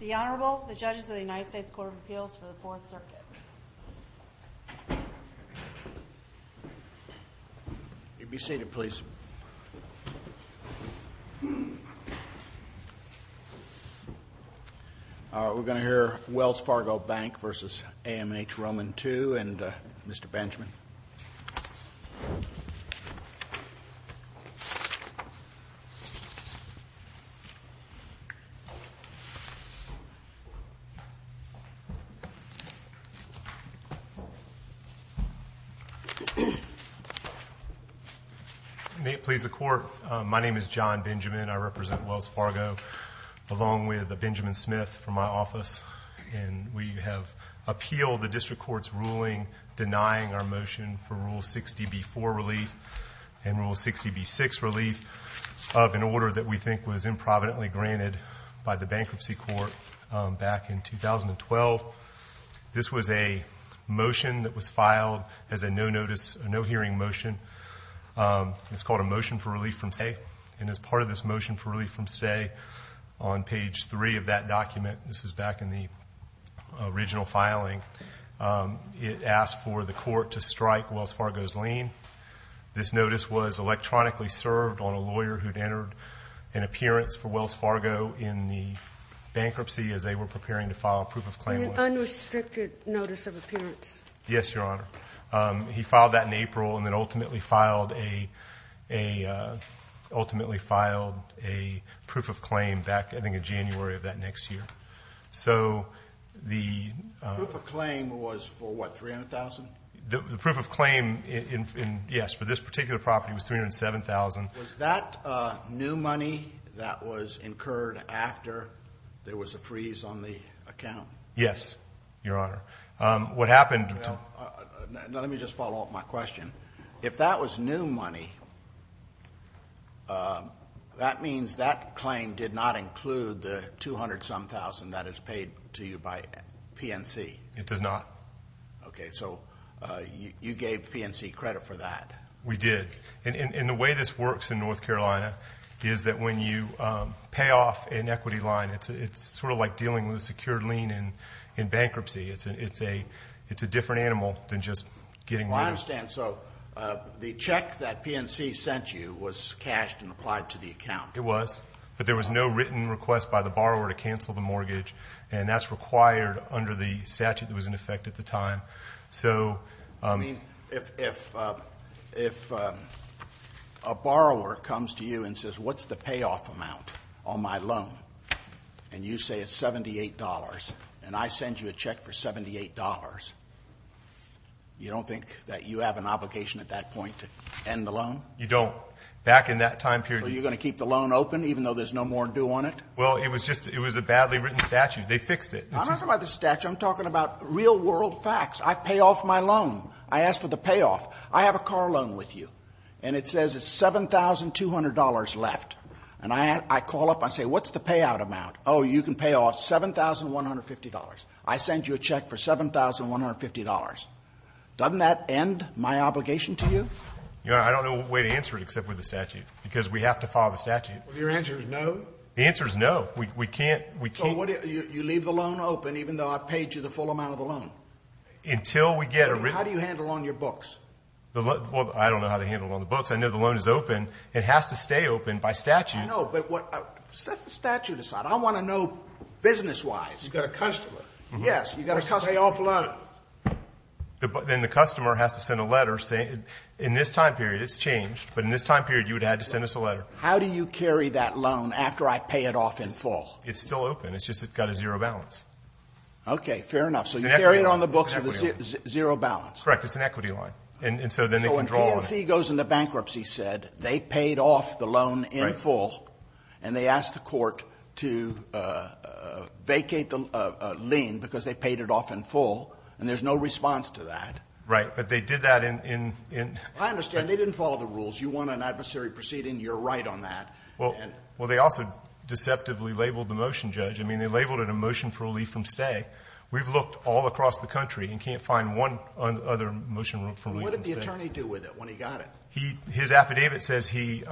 The Honorable, the Judges of the United States Court of Appeals for the Fourth Circuit You may be seated, please We're going to hear Wells Fargo Bank v. AMH Roman Two and Mr. Benjamin Mr. Benjamin May it please the Court, my name is John Benjamin, I represent Wells Fargo along with Benjamin Smith from my office and we have appealed the district court's ruling denying our motion for Rule 60b-4 relief and Rule 60b-6 relief of an order that we think was improvidently granted by the bankruptcy court back in 2012 This was a motion that was filed as a no-notice, no-hearing motion It's called a motion for relief from stay And as part of this motion for relief from stay, on page 3 of that document, this is back in the original filing It asked for the court to strike Wells Fargo's lien This notice was electronically served on a lawyer who'd entered an appearance for Wells Fargo in the bankruptcy as they were preparing to file a proof of claim An unrestricted notice of appearance Yes, Your Honor He filed that in April and then ultimately filed a proof of claim back, I think, in January of that next year So the Proof of claim was for what, $300,000? The proof of claim, yes, for this particular property was $307,000 Was that new money that was incurred after there was a freeze on the account? Yes, Your Honor Let me just follow up my question If that was new money, that means that claim did not include the $200,000 that is paid to you by PNC? It does not Okay, so you gave PNC credit for that? We did And the way this works in North Carolina is that when you pay off an equity line it's sort of like dealing with a secured lien in bankruptcy It's a different animal than just getting rid of it I understand, so the check that PNC sent you was cashed and applied to the account? It was, but there was no written request by the borrower to cancel the mortgage and that's required under the statute that was in effect at the time If a borrower comes to you and says, what's the payoff amount on my loan? And you say it's $78 and I send you a check for $78 you don't think that you have an obligation at that point to end the loan? You don't, back in that time period So you're going to keep the loan open even though there's no more due on it? Well, it was a badly written statute, they fixed it I'm not talking about the statute, I'm talking about real world facts I pay off my loan, I ask for the payoff I have a car loan with you and it says it's $7,200 left and I call up and say, what's the payout amount? Oh, you can pay off $7,150, I send you a check for $7,150 Doesn't that end my obligation to you? Your Honor, I don't know what way to answer it except with the statute because we have to follow the statute Your answer is no? The answer is no, we can't So you leave the loan open even though I paid you the full amount of the loan? Until we get a written... How do you handle on your books? Well, I don't know how to handle on the books I know the loan is open, it has to stay open by statute I know, but set the statute aside I want to know business-wise You've got a customer Yes, you've got a customer You must pay off a loan Then the customer has to send a letter saying in this time period it's changed, but in this time period you would have had to send us a letter How do you carry that loan after I pay it off in full? It's still open, it's just it's got a zero balance Okay, fair enough So you carry it on the books with a zero balance? Correct, it's an equity loan So when PNC goes into bankruptcy, they paid off the loan in full and they asked the court to vacate the lien because they paid it off in full and there's no response to that Right, but they did that in... I understand, they didn't follow the rules You want an adversary proceeding, you're right on that Well, they also deceptively labeled the motion, Judge I mean, they labeled it a motion for relief from stay We've looked all across the country and can't find one other motion for relief from stay What did the attorney do with it when he got it? His affidavit says he,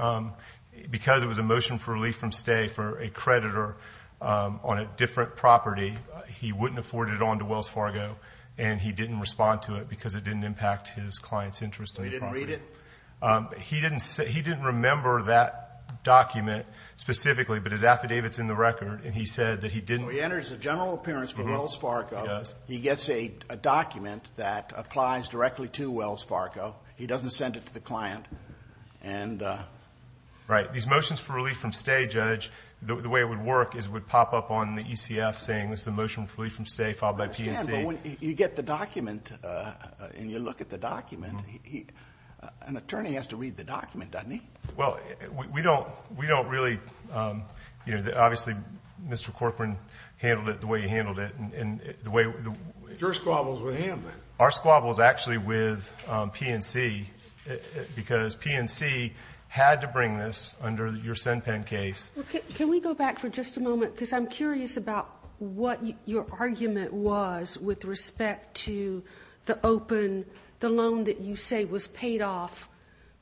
because it was a motion for relief from stay for a creditor on a different property he wouldn't afford it on to Wells Fargo and he didn't respond to it because it didn't impact his client's interest in the property He didn't read it? He didn't remember that document specifically, but his affidavit's in the record and he said that he didn't... So he enters a general appearance for Wells Fargo He gets a document that applies directly to Wells Fargo He doesn't send it to the client Right, these motions for relief from stay, Judge the way it would work is it would pop up on the ECF saying this is a motion for relief from stay filed by PNC I understand, but when you get the document and you look at the document an attorney has to read the document, doesn't he? Well, we don't really... Obviously, Mr. Corcoran handled it the way he handled it Your squabble's with him then Our squabble's actually with PNC because PNC had to bring this under your SenPen case Can we go back for just a moment? Because I'm curious about what your argument was with respect to the open the loan that you say was paid off,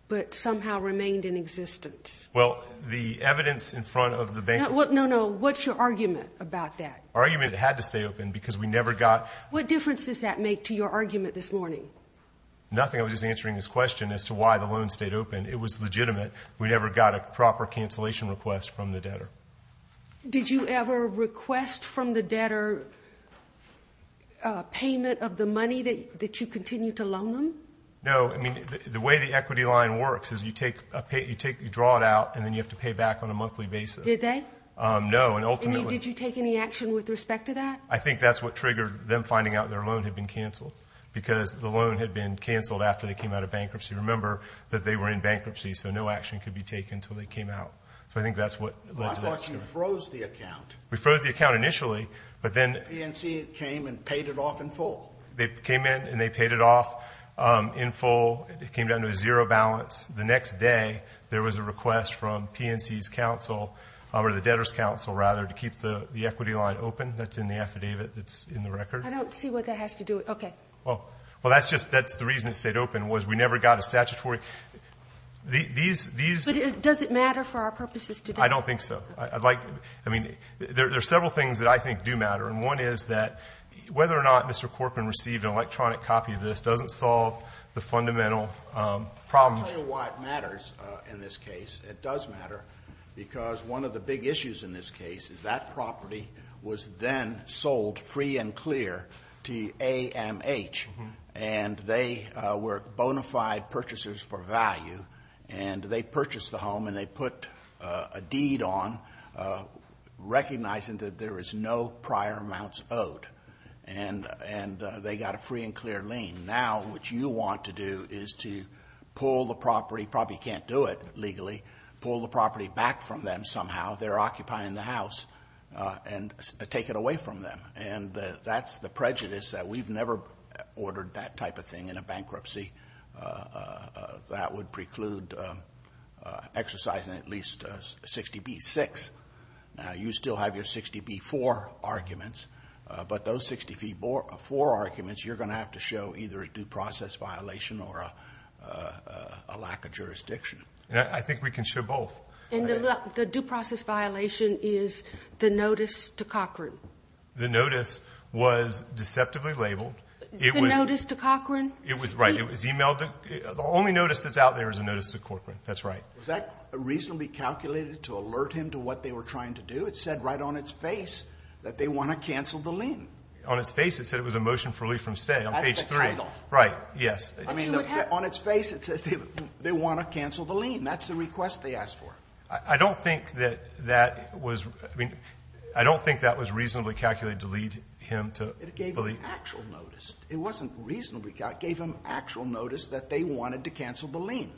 but somehow remained in existence Well, the evidence in front of the bank No, no, what's your argument about that? Our argument is it had to stay open because we never got... What difference does that make to your argument this morning? Nothing, I was just answering this question as to why the loan stayed open It was legitimate, we never got a proper cancellation request from the debtor Did you ever request from the debtor payment of the money that you continue to loan them? No, I mean, the way the equity line works is you draw it out and then you have to pay back on a monthly basis Did they? No, and ultimately... Did you take any action with respect to that? I think that's what triggered them finding out their loan had been canceled because the loan had been canceled after they came out of bankruptcy Remember that they were in bankruptcy, so no action could be taken until they came out I thought you froze the account We froze the account initially, but then... PNC came and paid it off in full They came in and they paid it off in full, it came down to a zero balance The next day, there was a request from PNC's counsel, or the debtor's counsel rather, to keep the equity line open That's in the affidavit, that's in the record I don't see what that has to do with... okay Well, that's the reason it stayed open, was we never got a statutory... Does it matter for our purposes today? I don't think so There are several things that I think do matter One is that whether or not Mr. Corcoran received an electronic copy of this doesn't solve the fundamental problem I'll tell you why it matters in this case It does matter because one of the big issues in this case is that property was then sold free and clear to AMH And they were bona fide purchasers for value And they purchased the home and they put a deed on, recognizing that there is no prior amounts owed And they got a free and clear lien Now, what you want to do is to pull the property, probably can't do it legally, pull the property back from them somehow They're occupying the house, and take it away from them And that's the prejudice, that we've never ordered that type of thing in a bankruptcy That would preclude exercising at least 60b-6 Now, you still have your 60b-4 arguments But those 60b-4 arguments, you're going to have to show either a due process violation or a lack of jurisdiction I think we can show both The due process violation is the notice to Corcoran The notice was deceptively labeled The notice to Corcoran? Right, it was emailed, the only notice that's out there is the notice to Corcoran, that's right Was that reasonably calculated to alert him to what they were trying to do? It said right on its face that they want to cancel the lien On its face it said it was a motion for relief from stay on page 3 That's the title Right, yes On its face it says they want to cancel the lien, that's the request they asked for I don't think that was reasonably calculated to lead him to believe It gave him actual notice It wasn't reasonably calculated, it gave him actual notice that they wanted to cancel the lien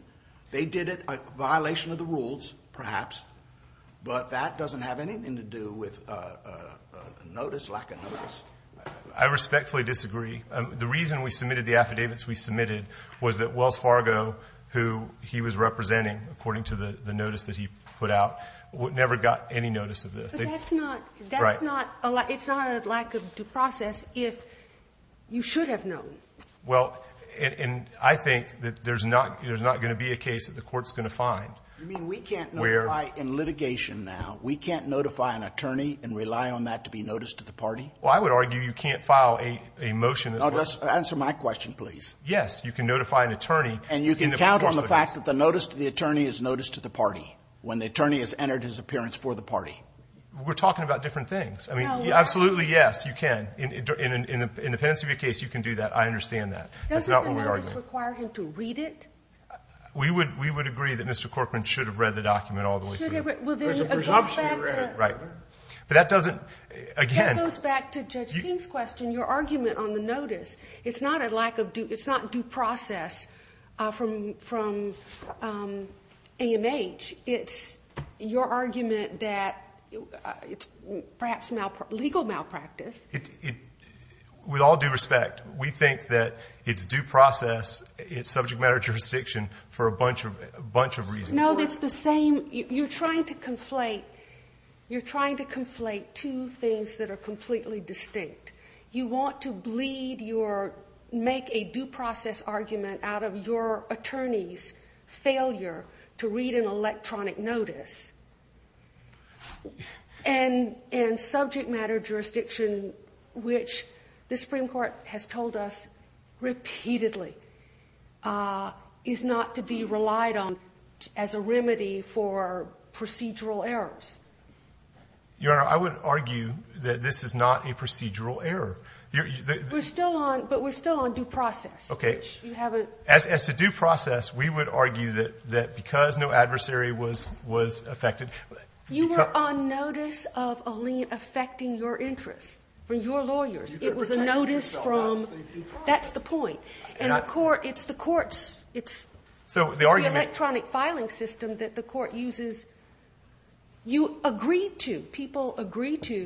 They did it in violation of the rules, perhaps But that doesn't have anything to do with a notice, lack of notice I respectfully disagree The reason we submitted the affidavits we submitted Was that Wells Fargo, who he was representing according to the notice that he put out Never got any notice of this But that's not, it's not a lack of due process if you should have known Well, and I think that there's not going to be a case that the court's going to find You mean we can't notify in litigation now We can't notify an attorney and rely on that to be noticed to the party? Well I would argue you can't file a motion Answer my question please Yes, you can notify an attorney And you can count on the fact that the notice to the attorney is notice to the party When the attorney has entered his appearance for the party We're talking about different things Absolutely yes, you can In the pendency case you can do that, I understand that Doesn't the notice require him to read it? We would agree that Mr. Corcoran should have read the document all the way through There's a presumption he read it But that doesn't, again That goes back to Judge King's question Your argument on the notice, it's not due process from AMH It's your argument that it's perhaps legal malpractice With all due respect, we think that it's due process It's subject matter jurisdiction for a bunch of reasons No, it's the same, you're trying to conflate You're trying to conflate two things that are completely distinct You want to make a due process argument out of your attorney's failure to read an electronic notice And subject matter jurisdiction, which the Supreme Court has told us repeatedly Is not to be relied on as a remedy for procedural errors Your Honor, I would argue that this is not a procedural error We're still on, but we're still on due process As to due process, we would argue that because no adversary was affected You were on notice of a lien affecting your interests From your lawyers, it was a notice from That's the point And the court, it's the court's It's the electronic filing system that the court uses You agree to, people agree to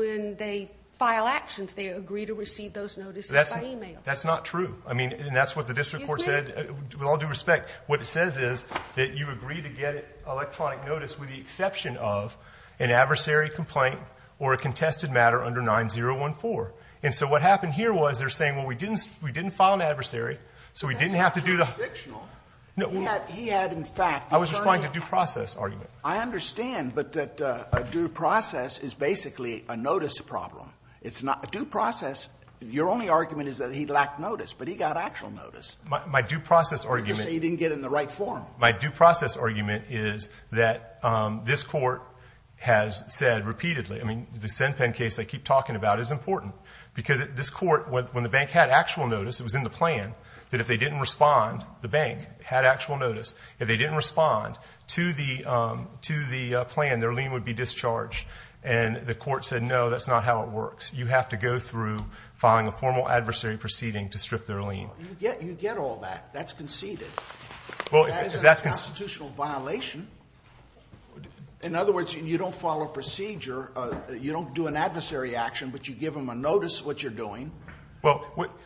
When they file actions, they agree to receive those notices by email That's not true, and that's what the district court said With all due respect, what it says is That you agree to get electronic notice with the exception of An adversary complaint or a contested matter under 9014 And so what happened here was, they're saying Well, we didn't file an adversary So we didn't have to do the He had, in fact I was responding to a due process argument I understand, but a due process is basically a notice problem It's not a due process Your only argument is that he lacked notice, but he got actual notice My due process argument So he didn't get in the right form My due process argument is that this court has said repeatedly I mean, the SenPen case I keep talking about is important Because this court, when the bank had actual notice, it was in the plan That if they didn't respond, the bank had actual notice If they didn't respond to the plan, their lien would be discharged And the court said, no, that's not how it works You have to go through filing a formal adversary proceeding to strip their lien You get all that, that's conceded That is a constitutional violation In other words, you don't follow procedure You don't do an adversary action, but you give them a notice of what you're doing Well,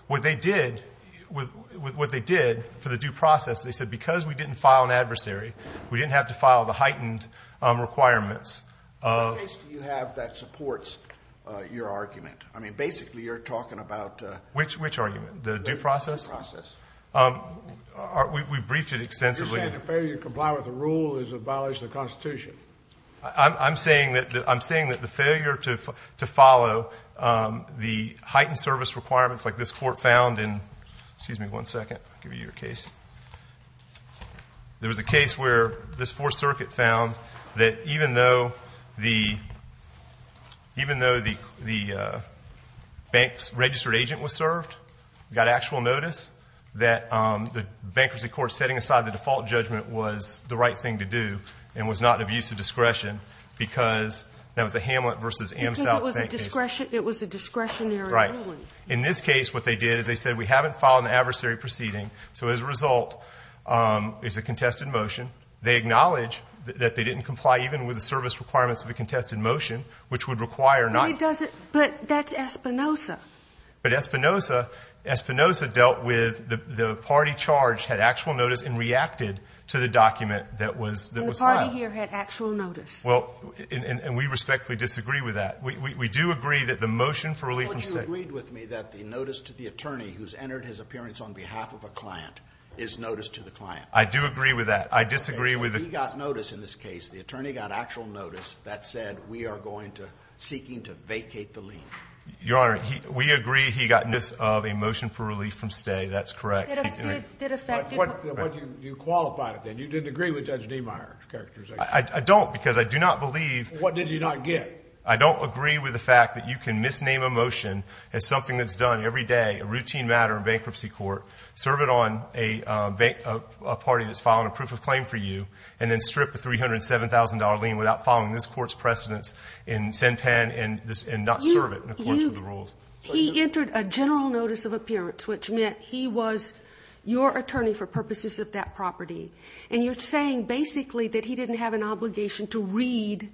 what they did for the due process, they said, because we didn't file an adversary We didn't have to file the heightened requirements What case do you have that supports your argument? I mean, basically you're talking about Which argument? The due process? The due process We briefed it extensively I'm saying that the failure to follow the heightened service requirements Like this court found in Excuse me one second, I'll give you your case There was a case where this Fourth Circuit found That even though the bank's registered agent was served Got actual notice That the bankruptcy court setting aside the default judgment was the right thing to do And was not an abuse of discretion Because that was a Hamlet v. Amsock bank case Because it was a discretionary ruling Right, in this case what they did is they said We haven't filed an adversary proceeding So as a result, it's a contested motion They acknowledge that they didn't comply even with the service requirements of a contested motion Which would require not But that's Espinoza But Espinoza dealt with the party charge And reacted to the document that was filed And the party here had actual notice And we respectfully disagree with that We do agree that the motion for relief from stay But you agreed with me that the notice to the attorney Who's entered his appearance on behalf of a client Is notice to the client I do agree with that I disagree with He got notice in this case The attorney got actual notice That said we are going to Seeking to vacate the lien Your Honor, we agree he got notice of a motion for relief from stay That's correct Did it affect You qualified it then You didn't agree with Judge Niemeyer's characterization I don't because I do not believe What did you not get? I don't agree with the fact that you can misname a motion As something that's done every day A routine matter in bankruptcy court Serve it on a party that's filing a proof of claim for you And then strip the $307,000 lien Without following this court's precedence And not serve it in accordance with the rules He entered a general notice of appearance Which meant he was your attorney For purposes of that property And you're saying basically That he didn't have an obligation to read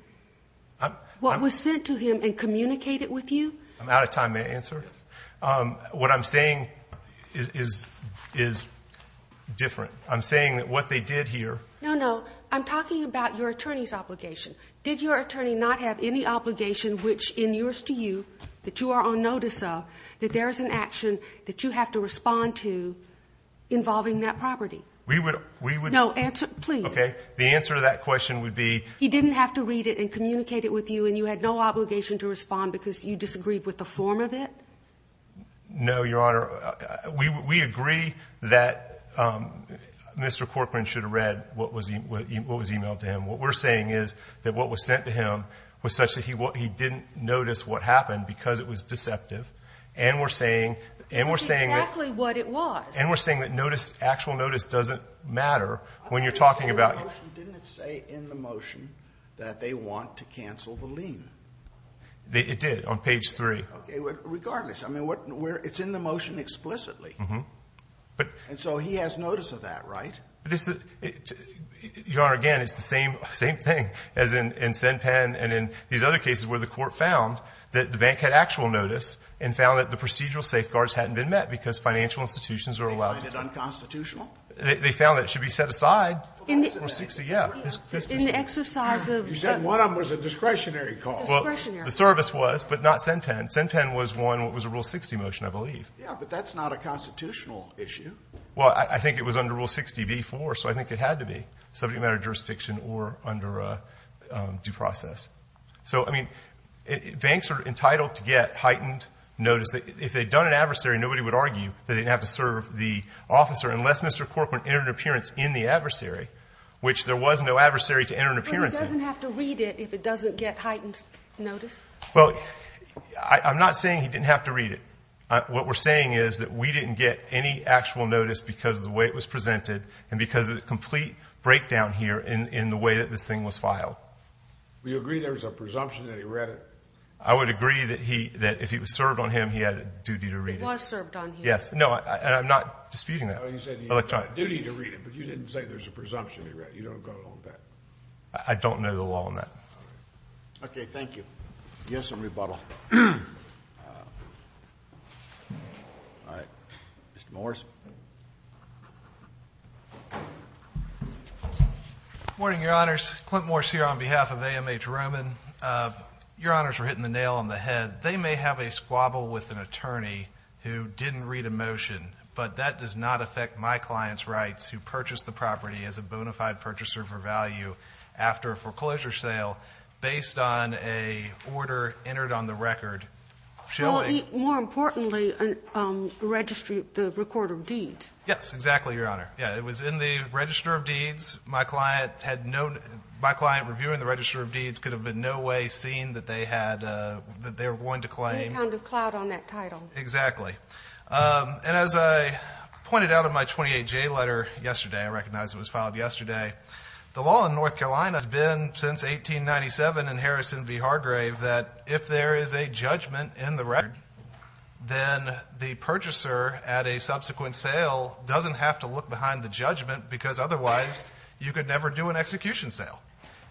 What was sent to him And communicate it with you I'm out of time, may I answer What I'm saying is different I'm saying that what they did here No, no, I'm talking about your attorney's obligation Did your attorney not have any obligation Which in yours to you That you are on notice of That there is an action that you have to respond to Involving that property We would No, answer, please Okay, the answer to that question would be He didn't have to read it and communicate it with you And you had no obligation to respond Because you disagreed with the form of it No, your honor We agree that Mr. Corcoran should have read What was emailed to him What we're saying is that what was sent to him Was such that he didn't notice what happened Because it was deceptive And we're saying That's exactly what it was And we're saying that actual notice doesn't matter When you're talking about Didn't it say in the motion That they want to cancel the lien It did, on page 3 Okay, regardless It's in the motion explicitly And so he has notice of that, right Your honor, again, it's the same thing As in Sen Penn and in these other cases Where the court found that the bank had actual notice And found that the procedural safeguards hadn't been met Because financial institutions are allowed They find it unconstitutional They found that it should be set aside Rule 60, yeah In the exercise of You said one of them was a discretionary call Discretionary The service was, but not Sen Penn Sen Penn was one, it was a Rule 60 motion, I believe Yeah, but that's not a constitutional issue Well, I think it was under Rule 60b-4 So I think it had to be Subject matter jurisdiction or under due process So, I mean, banks are entitled to get heightened notice If they'd done an adversary, nobody would argue That they didn't have to serve the officer Unless Mr. Corcoran entered an appearance in the adversary Which there was no adversary to enter an appearance in But he doesn't have to read it If it doesn't get heightened notice Well, I'm not saying he didn't have to read it What we're saying is that we didn't get any actual notice Because of the way it was presented And because of the complete breakdown here In the way that this thing was filed Do you agree there was a presumption that he read it? I would agree that if he was served on him He had a duty to read it It was served on him Yes, no, and I'm not disputing that No, he said he had a duty to read it But you didn't say there was a presumption he read it You don't go along with that I don't know the law on that All right Okay, thank you You have some rebuttal All right, Mr. Morris Morning, your honors Clint Morris here on behalf of AMH Roman Your honors are hitting the nail on the head They may have a squabble with an attorney Who didn't read a motion But that does not affect my client's rights Who purchased the property as a bona fide purchaser for value After a foreclosure sale Well, more importantly The record of the property Yes, exactly, your honor Yeah, it was in the register of deeds My client had no My client reviewing the register of deeds Could have in no way seen that they had That they were going to claim Any kind of clout on that title Exactly And as I pointed out in my 28J letter yesterday I recognize it was filed yesterday The law in North Carolina has been since 1897 In Harrison v. Hargrave That if there is a judgment in the record Then the purchaser At a subsequent sale Doesn't have to look behind the judgment Because otherwise You could never do an execution sale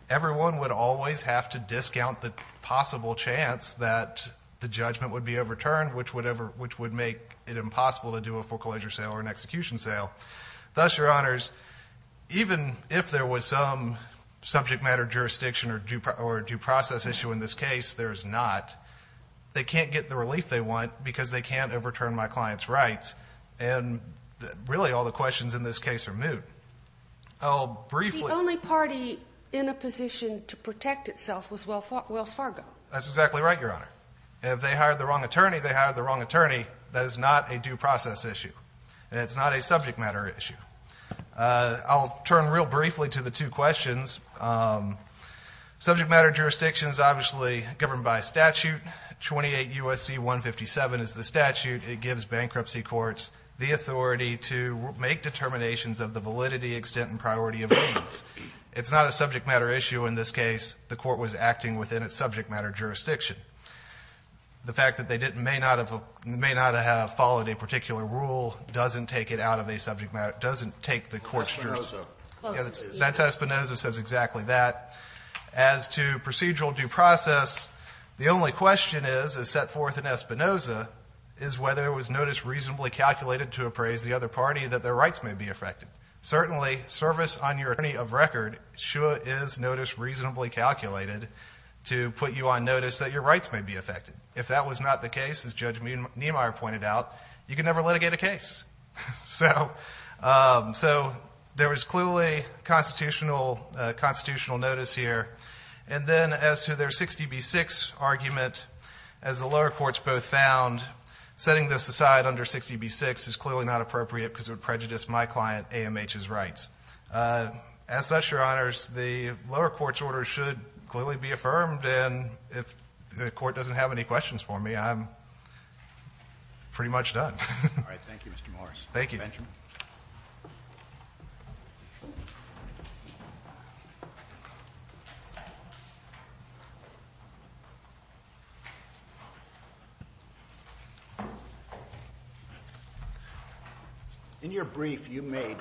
Everyone would always have to discount The possible chance that The judgment would be overturned Which would make it impossible To do a foreclosure sale or an execution sale Thus, your honors Even if there was some Subject matter jurisdiction Or due process issue in this case There is not They can't get the relief they want Because they can't overturn my client's rights And really all the questions in this case are moot I'll briefly The only party in a position to protect itself Was Wells Fargo That's exactly right, your honor If they hired the wrong attorney They hired the wrong attorney That is not a due process issue And it's not a subject matter issue I'll turn real briefly to the two questions Subject matter jurisdictions Obviously governed by statute 28 U.S.C. 157 is the statute It gives bankruptcy courts The authority to make determinations Of the validity, extent, and priority of deeds It's not a subject matter issue In this case The court was acting within its subject matter jurisdiction The fact that they may not have Followed a particular rule Doesn't take it out of a subject matter Doesn't take the court's jurisdiction That's Espinoza That's Espinoza Says exactly that As to procedural due process The only question is Is set forth in Espinoza Is whether it was notice reasonably calculated To appraise the other party That their rights may be affected Certainly, service on your attorney of record Sure is notice reasonably calculated To put you on notice That your rights may be affected If that was not the case As Judge Niemeyer pointed out You can never litigate a case So There was clearly A constitutional notice here And then as to their 60B6 argument As the lower courts both found Setting this aside under 60B6 Is clearly not appropriate Because it would prejudice my client AMH's rights As such, your honors The lower court's order should Clearly be affirmed And if the court doesn't have any questions for me I'm Pretty much done All right, thank you, Mr. Morris Thank you, Benjamin Thank you In your brief, you made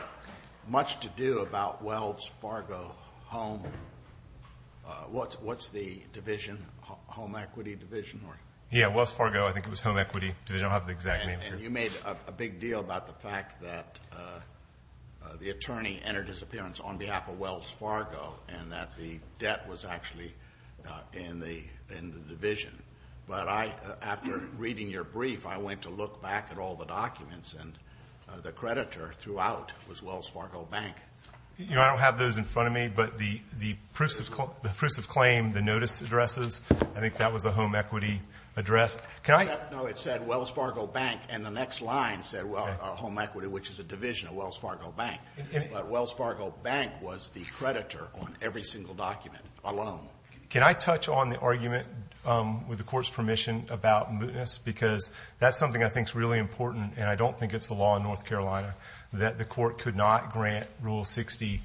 Much to do about Wells Fargo Home What's the division? Home Equity Division? Yeah, Wells Fargo I think it was Home Equity Division I don't have the exact name here And you made a big deal about the fact that The attorney entered his appearance On behalf of Wells Fargo And that the debt was actually In the division But I, after reading your brief I went to look back at all the documents And the creditor throughout Was Wells Fargo Bank You know, I don't have those in front of me But the proofs of claim The notice addresses I think that was the Home Equity address Can I No, it said Wells Fargo Bank And the next line said Well, Home Equity, which is a division Of Wells Fargo Bank But Wells Fargo Bank was the creditor On every single document alone Can I touch on the argument With the court's permission About mootness Because that's something I think Is really important And I don't think it's the law in North Carolina That the court could not grant Rule 60B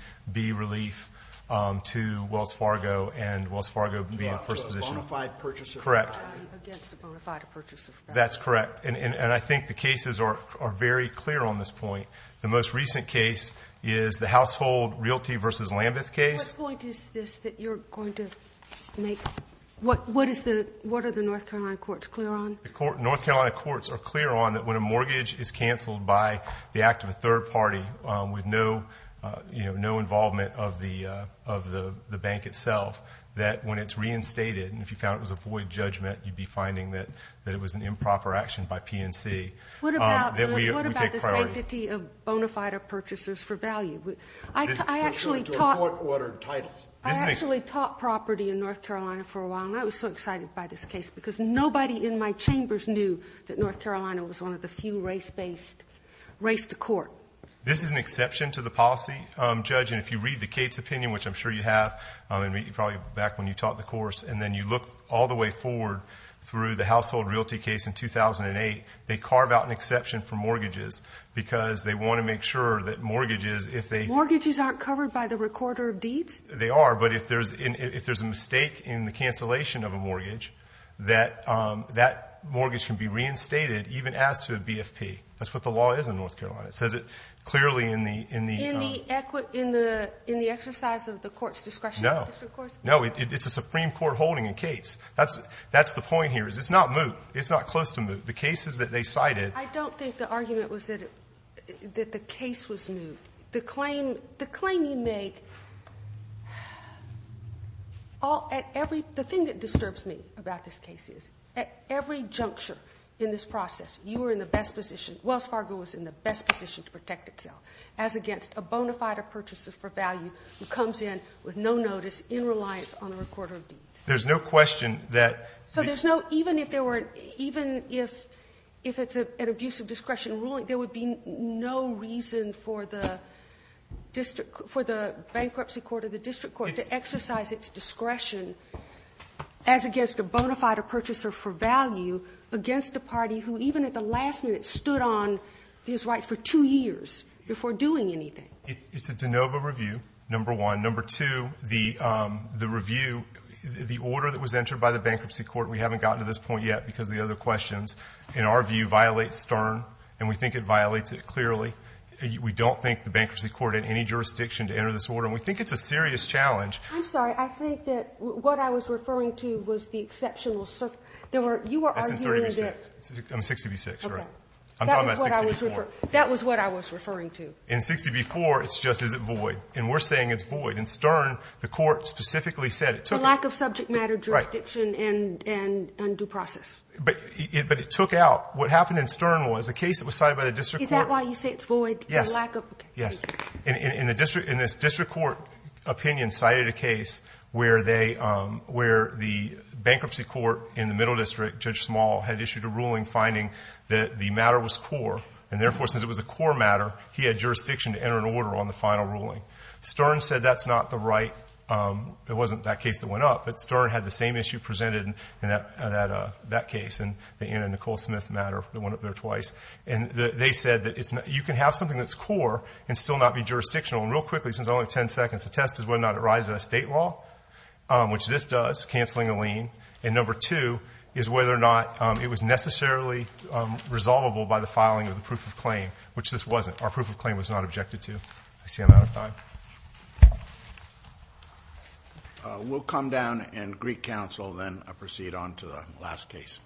relief To Wells Fargo And Wells Fargo being the first position A bona fide purchase of property Correct Against a bona fide purchase of property That's correct And I think the cases Are very clear on this point The most recent case Is the household realty Versus Lambeth case What point is this That you're going to make What are the North Carolina courts clear on The North Carolina courts are clear on That when a mortgage is canceled By the act of a third party With no involvement Of the bank itself That when it's reinstated And if you found it was a void judgment You'd be finding that That it was an improper action by PNC That we take priority What about the sanctity Of bona fide purchasers for value I actually taught I actually taught property In North Carolina for a while And I was so excited by this case Because nobody in my chambers Knew that North Carolina Was one of the few race-based Race to court This is an exception to the policy Judge and if you read the Cates opinion Which I'm sure you have Probably back when you taught the course And then you look all the way forward Through the household realty case in 2008 They carve out an exception for mortgages Because they want to make sure That mortgages if they Mortgages aren't covered by the recorder of deeds They are but if there's A mistake in the cancellation of a mortgage That mortgage can be reinstated Even as to a BFP That's what the law is in North Carolina It says it clearly in the In the exercise of the court's discretion No No it's a Supreme Court holding in Cates That's the point here It's not moot It's not close to moot The cases that they cited I don't think the argument was that That the case was moot The claim The claim you make At every The thing that disturbs me About this case is At every juncture In this process You were in the best position Wells Fargo was in the best position To protect itself As against a bona fide Purchaser for value Who comes in with no notice In reliance on a recorder of deeds There's no question that So there's no Even if there were Even if If it's an abusive discretion ruling There would be no reason For the District For the Bankruptcy court or the district court To exercise its discretion As against a bona fide Purchaser for value Against a party Who even at the last minute Stood on These rights for two years Before doing anything It's a de novo review Number one Number two The review The order that was entered By the bankruptcy court We haven't gotten to this point yet Because of the other questions In our view Violates Stern And we think it violates it clearly We don't think the bankruptcy court In any jurisdiction To enter this order And we think it's a serious challenge I'm sorry I think that What I was referring to Was the exceptional There were You were arguing that That's in 30B6 I'm 60B6, you're right I'm talking about 60B4 That was what I was referring to In 60B4 It's just is it void And we're saying it's void In Stern The court specifically said The lack of subject matter Jurisdiction And due process But it took out What happened in Stern Was the case that was cited By the district court Is that why you say it's void Yes The lack of Yes In this district court Opinion cited a case Where they Where the bankruptcy court In the middle district Judge Small Had issued a ruling Finding that the matter was core And therefore since it was a core matter He had jurisdiction To enter an order On the final ruling Stern said that's not the right It wasn't That case that went up But Stern had the same issue Presented in that case And the Anna Nicole Smith matter That went up there twice And they said That you can have something That's core And still not be jurisdictional And real quickly Since I only have 10 seconds The test is whether or not It rises in a state law Which this does Canceling a lien And number two Is whether or not It was necessarily Resolvable by the filing Of the proof of claim Which this wasn't Our proof of claim Was not objected to I see I'm out of time We'll come down And Greek Council Then I'll proceed on To the last case